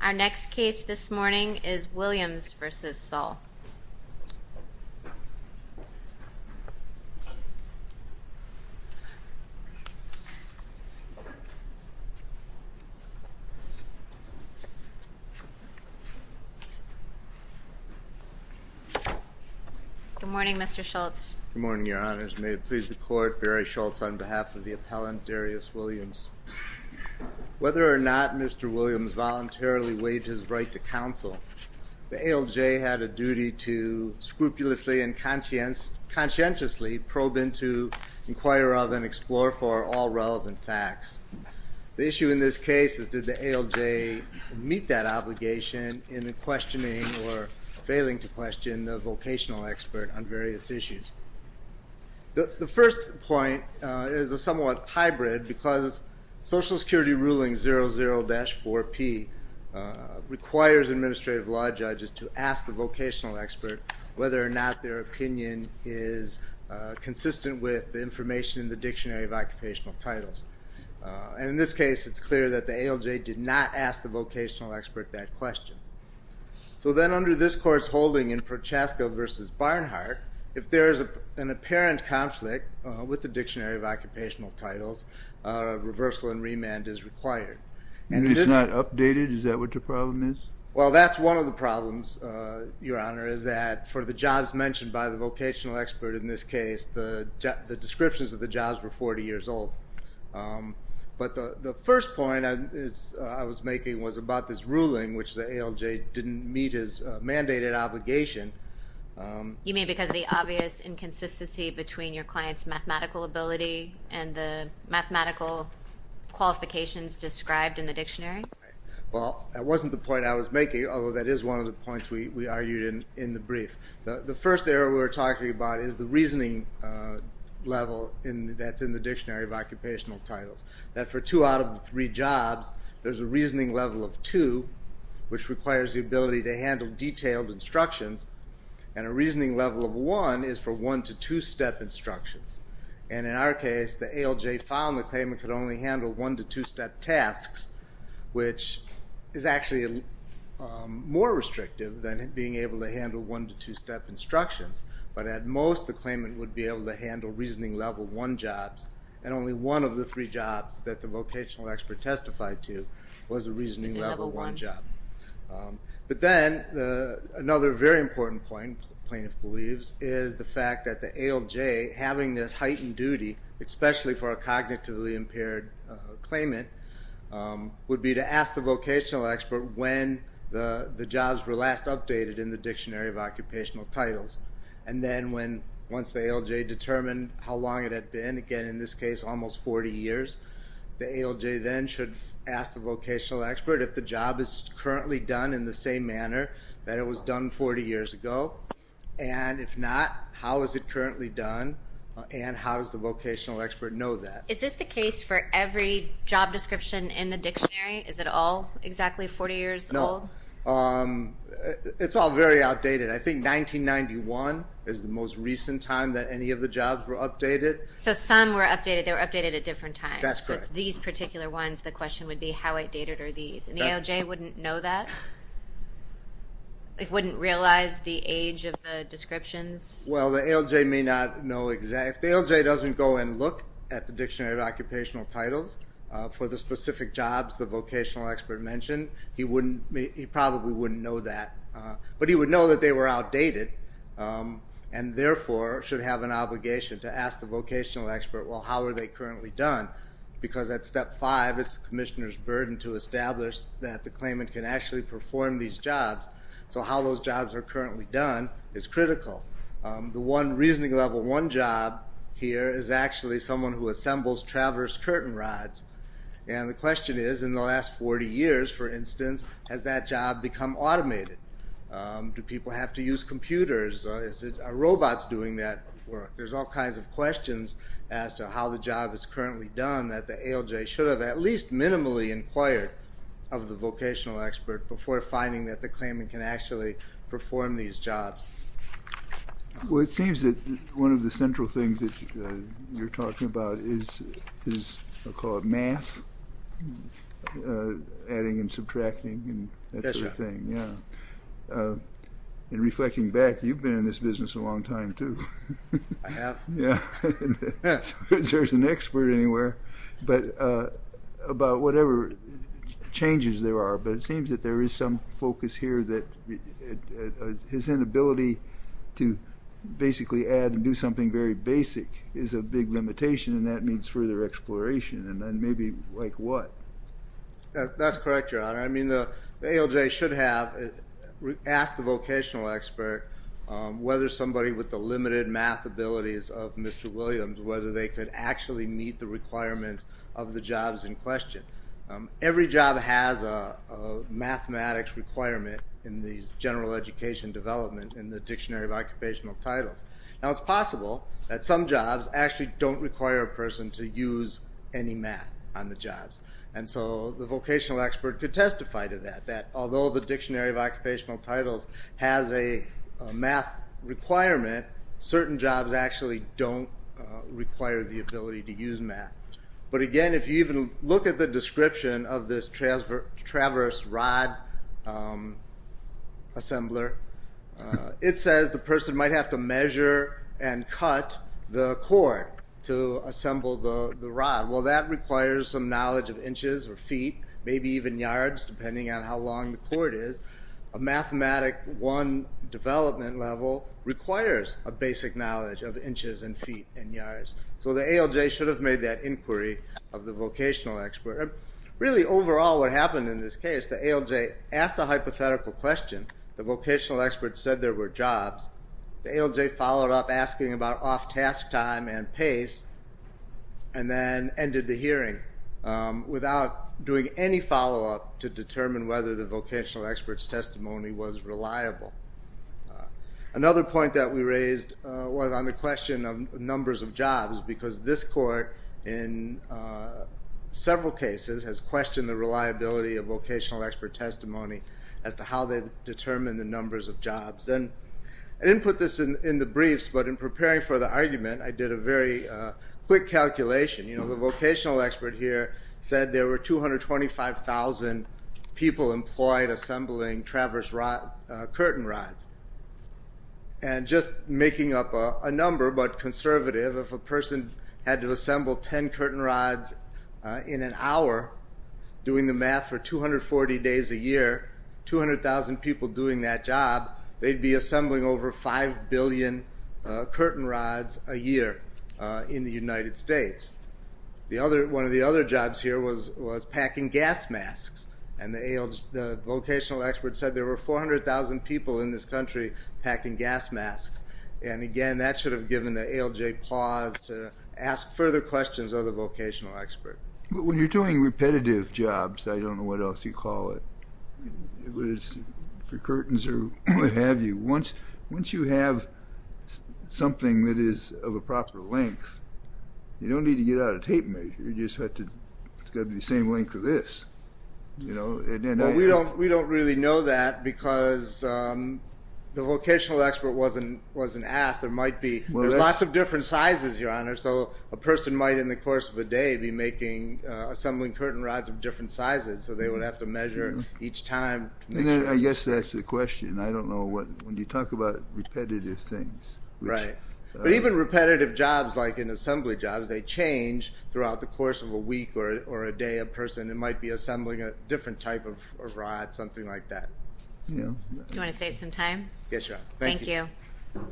Our next case this morning is Williams v. Saul. Good morning, Mr. Schultz. Good morning, Your Honors. May it please the Court, Barry Schultz on behalf of the appellant, Darius Williams. Whether or not Mr. Williams voluntarily waived his right to counsel, the ALJ had a duty to scrupulously and conscientiously probe into, inquire of, and explore for all relevant facts. The issue in this case is did the ALJ meet that obligation in the questioning or failing to question the vocational expert on various issues. The first point is a somewhat hybrid because Social Security Ruling 00-4P requires administrative law judges to ask the vocational expert whether or not their opinion is consistent with the information in the Dictionary of Occupational Titles. And in this case, it's clear that the ALJ did not ask the vocational expert that question. So then under this Court's holding in Prochaska v. Barnhart, if there is an apparent conflict with the Dictionary of Occupational Titles, reversal and remand is required. And it's not updated? Is that what the problem is? Well, that's one of the problems, Your Honor, is that for the jobs mentioned by the vocational expert in this case, the descriptions of the jobs were 40 years old. But the first point I was making was about this ruling, which the ALJ didn't meet his mandated obligation. You mean because of the obvious inconsistency between your client's mathematical ability and the mathematical qualifications described in the Dictionary? Well, that wasn't the point I was making, although that is one of the points we argued in the brief. The first area we were talking about is the reasoning level that's in the Dictionary of Occupational Titles. That for two out of the three jobs, there's a reasoning level of two, which requires the ability to handle detailed instructions. And a reasoning level of one is for one- to two-step instructions. And in our case, the ALJ found the claimant could only handle one- to two-step tasks, which is actually more restrictive than being able to handle one- to two-step instructions. But at most, the claimant would be able to handle reasoning level one jobs. And only one of the three jobs that the vocational expert testified to was a reasoning level one job. But then another very important point, plaintiff believes, is the fact that the ALJ, having this heightened duty, especially for a cognitively impaired claimant, would be to ask the vocational expert when the jobs were last updated in the Dictionary of Occupational Titles. And then once the ALJ determined how long it had been, again in this case almost 40 years, the ALJ then should ask the vocational expert if the job is currently done in the same manner that it was done 40 years ago. And if not, how is it currently done, and how does the vocational expert know that? Is this the case for every job description in the dictionary? Is it all exactly 40 years old? No. It's all very outdated. I think 1991 is the most recent time that any of the jobs were updated. So some were updated. They were updated at different times. That's correct. So it's these particular ones, the question would be how outdated are these? And the ALJ wouldn't know that? It wouldn't realize the age of the descriptions? Well, the ALJ may not know exactly. If the ALJ doesn't go and look at the Dictionary of Occupational Titles for the specific jobs the vocational expert mentioned, he probably wouldn't know that. But he would know that they were outdated and therefore should have an obligation to ask the vocational expert, well, how are they currently done? Because at Step 5, it's the commissioner's burden to establish that the claimant can actually perform these jobs. So how those jobs are currently done is critical. The one reasoning level one job here is actually someone who assembles traverse curtain rods. And the question is, in the last 40 years, for instance, has that job become automated? Do people have to use computers? Are robots doing that work? There's all kinds of questions as to how the job is currently done that the ALJ should have at least minimally inquired of the vocational expert before finding that the claimant can actually perform these jobs. Well, it seems that one of the central things that you're talking about is, I'll call it math, adding and subtracting and that sort of thing. And reflecting back, you've been in this business a long time too. I have. There's an expert anywhere about whatever changes there are. But it seems that there is some focus here that his inability to basically add and do something very basic is a big limitation, and that means further exploration, and maybe like what? That's correct, Your Honor. I mean, the ALJ should have asked the vocational expert whether somebody with the limited math abilities of Mr. Williams, whether they could actually meet the requirements of the jobs in question. Every job has a mathematics requirement in these general education development in the Dictionary of Occupational Titles. Now, it's possible that some jobs actually don't require a person to use any math on the jobs. And so the vocational expert could testify to that, that although the Dictionary of Occupational Titles has a math requirement, certain jobs actually don't require the ability to use math. But again, if you even look at the description of this traverse rod assembler, it says the person might have to measure and cut the cord to assemble the rod. Well, that requires some knowledge of inches or feet, maybe even yards, depending on how long the cord is. A Mathematic I development level requires a basic knowledge of inches and feet and yards. So the ALJ should have made that inquiry of the vocational expert. Really, overall, what happened in this case, the ALJ asked a hypothetical question. The vocational expert said there were jobs. The ALJ followed up asking about off-task time and pace and then ended the hearing without doing any follow-up to determine whether the vocational expert's testimony was reliable. Another point that we raised was on the question of numbers of jobs because this court, in several cases, has questioned the reliability of vocational expert testimony as to how they determine the numbers of jobs. And I didn't put this in the briefs, but in preparing for the argument, I did a very quick calculation. The vocational expert here said there were 225,000 people employed assembling traverse curtain rods. And just making up a number, but conservative, if a person had to assemble 10 curtain rods in an hour, doing the math for 240 days a year, 200,000 people doing that job, they'd be assembling over 5 billion curtain rods a year in the United States. One of the other jobs here was packing gas masks. And the vocational expert said there were 400,000 people in this country packing gas masks. And again, that should have given the ALJ pause to ask further questions of the vocational expert. But when you're doing repetitive jobs, I don't know what else you call it, whether it's for curtains or what have you, once you have something that is of a proper length, you don't need to get out a tape measure. You just have to, it's got to be the same length as this, you know. Well, we don't really know that because the vocational expert wasn't asked. There might be, there's lots of different sizes, Your Honor. So a person might in the course of a day be making, assembling curtain rods of different sizes, so they would have to measure each time. And I guess that's the question. I don't know what, when you talk about repetitive things. Right. But even repetitive jobs like in assembly jobs, they change throughout the course of a week or a day. A person might be assembling a different type of rod, something like that. Do you want to save some time? Yes, Your Honor. Thank you. Thank you.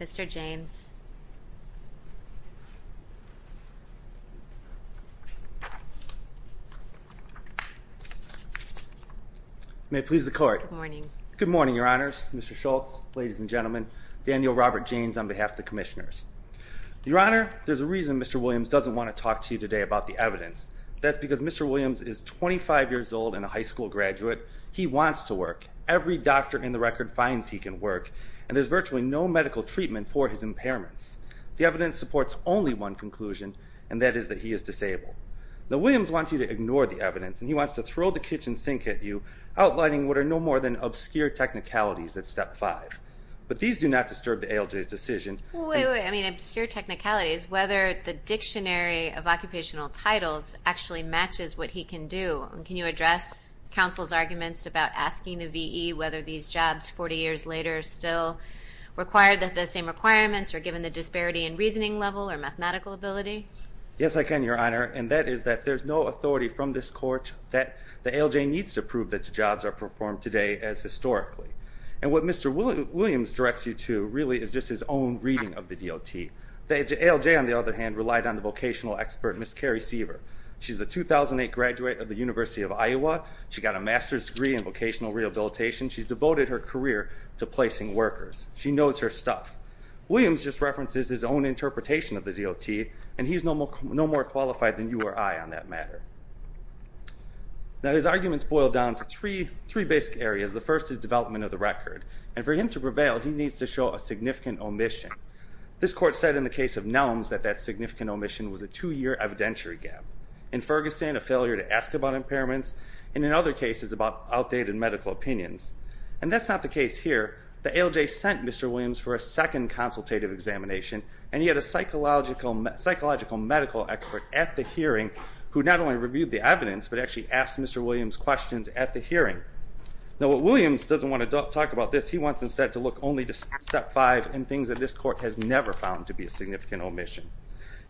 Mr. James. May it please the Court. Good morning. Good morning, Your Honors, Mr. Schultz, ladies and gentlemen. Daniel Robert James on behalf of the commissioners. Your Honor, there's a reason Mr. Williams doesn't want to talk to you today about the evidence. That's because Mr. Williams is 25 years old and a high school graduate. He wants to work. Every doctor in the record finds he can work. And there's virtually no medical treatment for his impairments. The evidence supports only one conclusion, and that is that he is disabled. Now, Williams wants you to ignore the evidence, and he wants to throw the kitchen sink at you, outlining what are no more than obscure technicalities at Step 5. But these do not disturb the ALJ's decision. Wait, wait, wait. I mean, obscure technicalities, whether the dictionary of occupational titles actually matches what he can do. Can you address counsel's arguments about asking the V.E. whether these jobs 40 years later still require the same requirements or given the disparity in reasoning level or mathematical ability? Yes, I can, Your Honor. And that is that there's no authority from this Court that the ALJ needs to prove that the jobs are performed today as historically. And what Mr. Williams directs you to really is just his own reading of the DOT. The ALJ, on the other hand, relied on the vocational expert, Ms. Carrie Seaver. She's a 2008 graduate of the University of Iowa. She got a master's degree in vocational rehabilitation. She's devoted her career to placing workers. She knows her stuff. Williams just references his own interpretation of the DOT, and he's no more qualified than you or I on that matter. Now, his arguments boil down to three basic areas. The first is development of the record. And for him to prevail, he needs to show a significant omission. This Court said in the case of Nelms that that significant omission was a two-year evidentiary gap. In Ferguson, a failure to ask about impairments, and in other cases about outdated medical opinions. And that's not the case here. The ALJ sent Mr. Williams for a second consultative examination, and he had a psychological medical expert at the hearing who not only reviewed the evidence but actually asked Mr. Williams questions at the hearing. Now, what Williams doesn't want to talk about this, he wants instead to look only to Step 5 and things that this Court has never found to be a significant omission.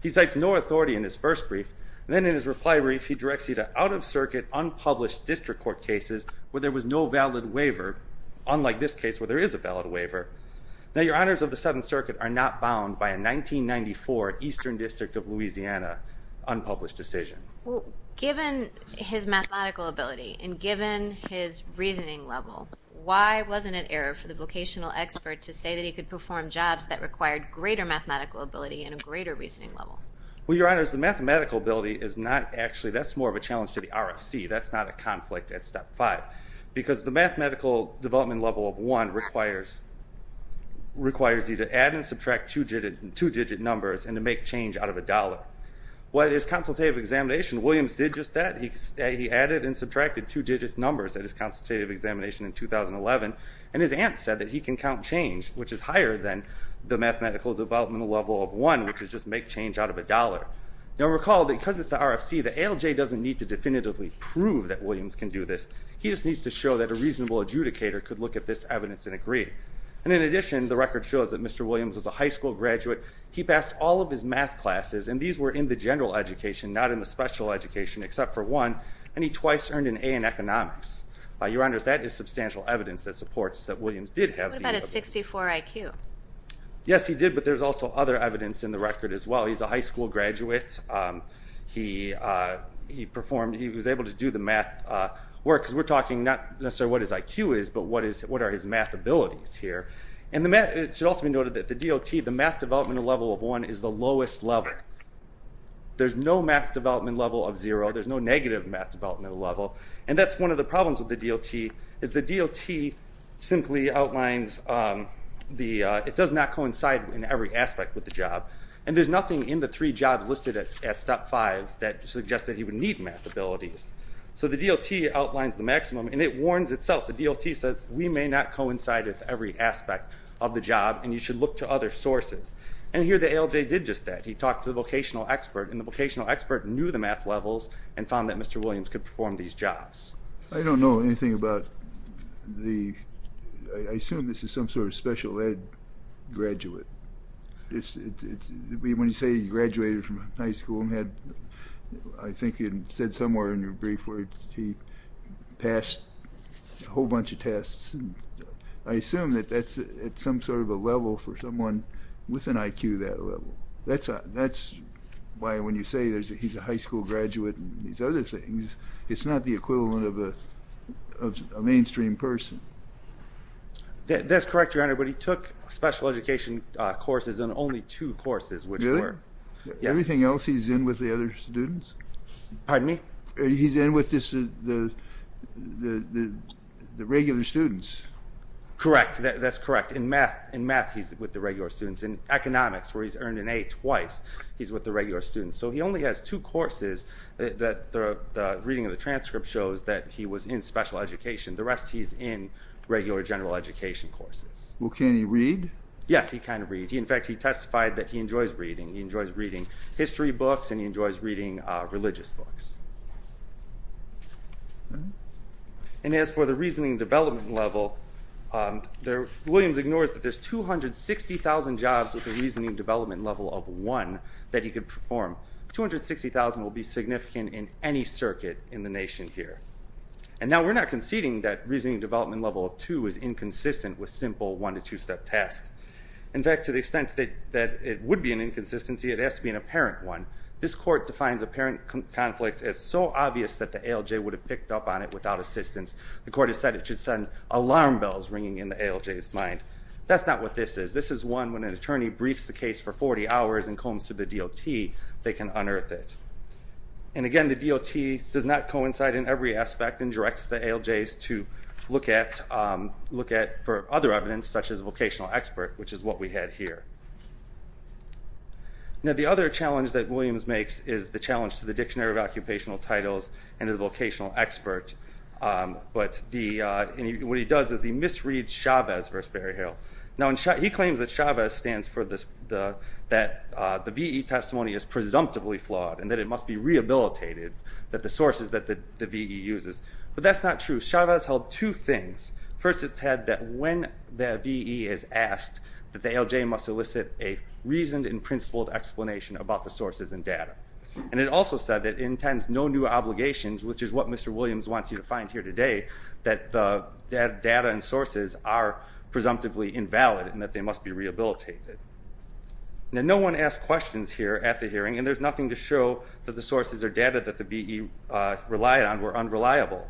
He cites no authority in his first brief. And then in his reply brief, he directs you to out-of-circuit, unpublished district court cases where there was no valid waiver, unlike this case where there is a valid waiver. Now, your honors of the Seventh Circuit are not bound by a 1994 Eastern District of Louisiana unpublished decision. Well, given his mathematical ability and given his reasoning level, why wasn't it error for the vocational expert to say that he could perform jobs that required greater mathematical ability and a greater reasoning level? Well, your honors, the mathematical ability is not actually, that's more of a challenge to the RFC. That's not a conflict at Step 5. Because the mathematical development level of 1 requires you to add and subtract two-digit numbers and to make change out of a dollar. Well, at his consultative examination, Williams did just that. He added and subtracted two-digit numbers at his consultative examination in 2011. And his aunt said that he can count change, which is higher than the mathematical developmental level of 1, which is just make change out of a dollar. Now, recall that because it's the RFC, the ALJ doesn't need to definitively prove that Williams can do this. He just needs to show that a reasonable adjudicator could look at this evidence and agree. And in addition, the record shows that Mr. Williams was a high school graduate. He passed all of his math classes, and these were in the general education, not in the special education, except for one, and he twice earned an A in economics. Your honors, that is substantial evidence that supports that Williams did have the ability. What about his 64 IQ? Yes, he did, but there's also other evidence in the record as well. He's a high school graduate. He performed, he was able to do the math work, because we're talking not necessarily what his IQ is, but what are his math abilities here. And it should also be noted that the DOT, the math developmental level of 1 is the lowest level. There's no math development level of 0. There's no negative math developmental level. And that's one of the problems with the DOT, is the DOT simply outlines the, it does not coincide in every aspect with the job. And there's nothing in the three jobs listed at step 5 that suggests that he would need math abilities. So the DOT outlines the maximum, and it warns itself. The DOT says we may not coincide with every aspect of the job, and you should look to other sources. And here the ALJ did just that. He talked to the vocational expert, and the vocational expert knew the math levels and found that Mr. Williams could perform these jobs. I don't know anything about the, I assume this is some sort of special ed graduate. When you say he graduated from high school and had, I think you said somewhere in your brief, where he passed a whole bunch of tests. I assume that that's at some sort of a level for someone with an IQ that level. That's why when you say he's a high school graduate and these other things, it's not the equivalent of a mainstream person. That's correct, Your Honor, but he took special education courses and only two courses, which were. Really? Yes. Everything else he's in with the other students? Pardon me? He's in with the regular students. Correct. That's correct. In math, he's with the regular students. In economics, where he's earned an A twice, he's with the regular students. So he only has two courses that the reading of the transcript shows that he was in special education. The rest he's in regular general education courses. Well, can he read? Yes, he can read. In fact, he testified that he enjoys reading. He enjoys reading history books, and he enjoys reading religious books. And as for the reasoning development level, Williams ignores that there's 260,000 jobs with a reasoning development level of one that he could perform. 260,000 will be significant in any circuit in the nation here. And now we're not conceding that reasoning development level of two is inconsistent with simple one- to two-step tasks. In fact, to the extent that it would be an inconsistency, it has to be an apparent one. This court defines apparent conflict as so obvious that the ALJ would have picked up on it without assistance. The court has said it should send alarm bells ringing in the ALJ's mind. That's not what this is. This is one when an attorney briefs the case for 40 hours and comes to the DOT, they can unearth it. And again, the DOT does not coincide in every aspect and directs the ALJs to look at for other evidence, such as vocational expert, which is what we had here. Now, the other challenge that Williams makes is the challenge to the Dictionary of Occupational Titles and the vocational expert. What he does is he misreads Chavez v. Berryhill. Now, he claims that Chavez stands for that the V.E. testimony is presumptively flawed and that it must be rehabilitated, that the sources that the V.E. uses. But that's not true. Chavez held two things. First, it said that when the V.E. is asked that the ALJ must elicit a reasoned and principled explanation about the sources and data. And it also said that it intends no new obligations, which is what Mr. Williams wants you to find here today, that the data and sources are presumptively invalid and that they must be rehabilitated. Now, no one asked questions here at the hearing, and there's nothing to show that the sources or data that the V.E. relied on were unreliable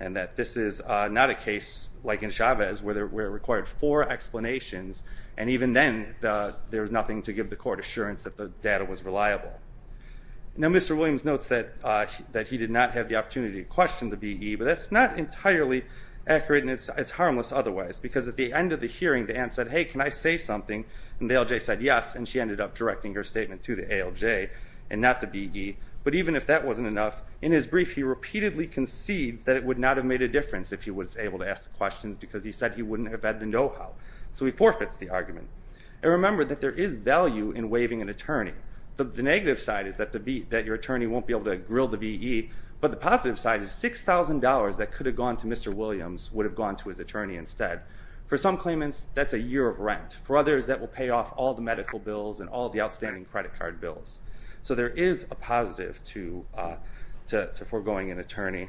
and that this is not a case like in Chavez where it required four explanations, and even then there was nothing to give the court assurance that the data was reliable. Now, Mr. Williams notes that he did not have the opportunity to question the V.E., but that's not entirely accurate, and it's harmless otherwise, because at the end of the hearing the aunt said, hey, can I say something? And the ALJ said yes, and she ended up directing her statement to the ALJ and not the V.E. But even if that wasn't enough, in his brief he repeatedly concedes that it would not have made a difference if he was able to ask the questions because he said he wouldn't have had the know-how. So he forfeits the argument. And remember that there is value in waiving an attorney. The negative side is that your attorney won't be able to grill the V.E., but the positive side is $6,000 that could have gone to Mr. Williams would have gone to his attorney instead. For some claimants, that's a year of rent. For others, that will pay off all the medical bills and all the outstanding credit card bills. So there is a positive to foregoing an attorney.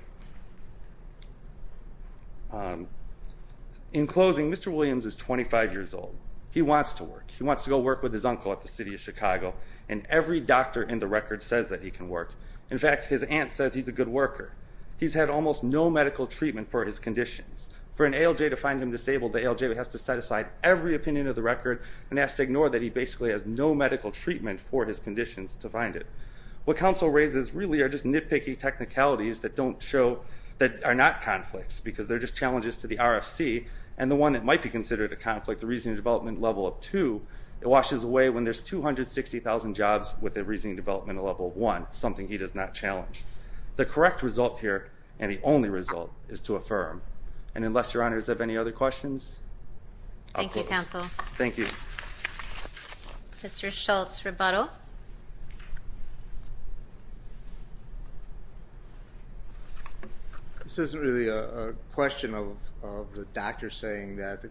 In closing, Mr. Williams is 25 years old. He wants to work. He wants to go work with his uncle at the city of Chicago, and every doctor in the record says that he can work. In fact, his aunt says he's a good worker. He's had almost no medical treatment for his conditions. For an ALJ to find him disabled, the ALJ has to set aside every opinion of the record and has to ignore that he basically has no medical treatment for his conditions to find it. What counsel raises really are just nitpicky technicalities that don't show, that are not conflicts because they're just challenges to the RFC, and the one that might be considered a conflict, the reasoning development level of 2, it washes away when there's 260,000 jobs with a reasoning development level of 1, something he does not challenge. The correct result here, and the only result, is to affirm. And unless your honors have any other questions, I'll close. Thank you, counsel. Thank you. Mr. Schultz, rebuttal. This isn't really a question of the doctor saying that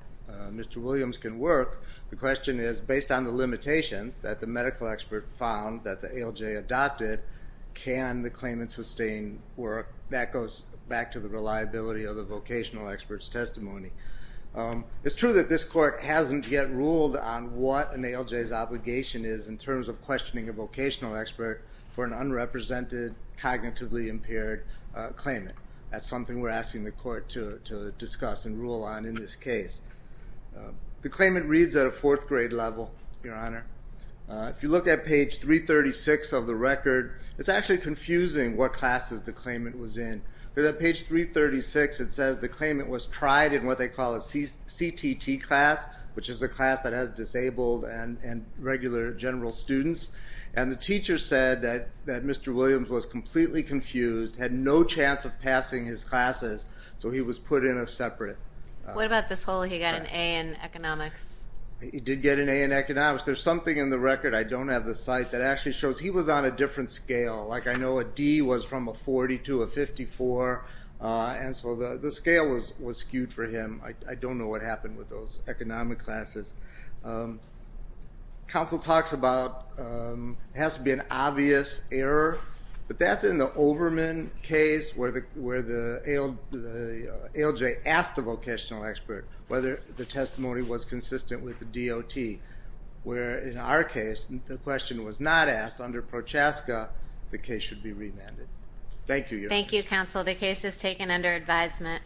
Mr. Williams can work. The question is, based on the limitations that the medical expert found that the ALJ adopted, can the claimant sustain work? That goes back to the reliability of the vocational expert's testimony. It's true that this court hasn't yet ruled on what an ALJ's obligation is in terms of questioning a vocational expert for an unrepresented, cognitively impaired claimant. That's something we're asking the court to discuss and rule on in this case. The claimant reads at a fourth grade level, Your Honor. If you look at page 336 of the record, it's actually confusing what classes the claimant was in. If you look at page 336, it says the claimant was tried in what they call a CTT class, which is a class that has disabled and regular general students. And the teacher said that Mr. Williams was completely confused, had no chance of passing his classes, so he was put in a separate. What about this whole he got an A in economics? He did get an A in economics. There's something in the record, I don't have the site, that actually shows he was on a different scale. Like I know a D was from a 40 to a 54, and so the scale was skewed for him. I don't know what happened with those economic classes. Counsel talks about it has to be an obvious error, but that's in the Overman case where the ALJ asked the vocational expert whether the testimony was consistent with the DOT, where in our case the question was not asked under Prochaska, the case should be remanded. Thank you, Your Honor. Thank you, Counsel. The case is taken under advisement.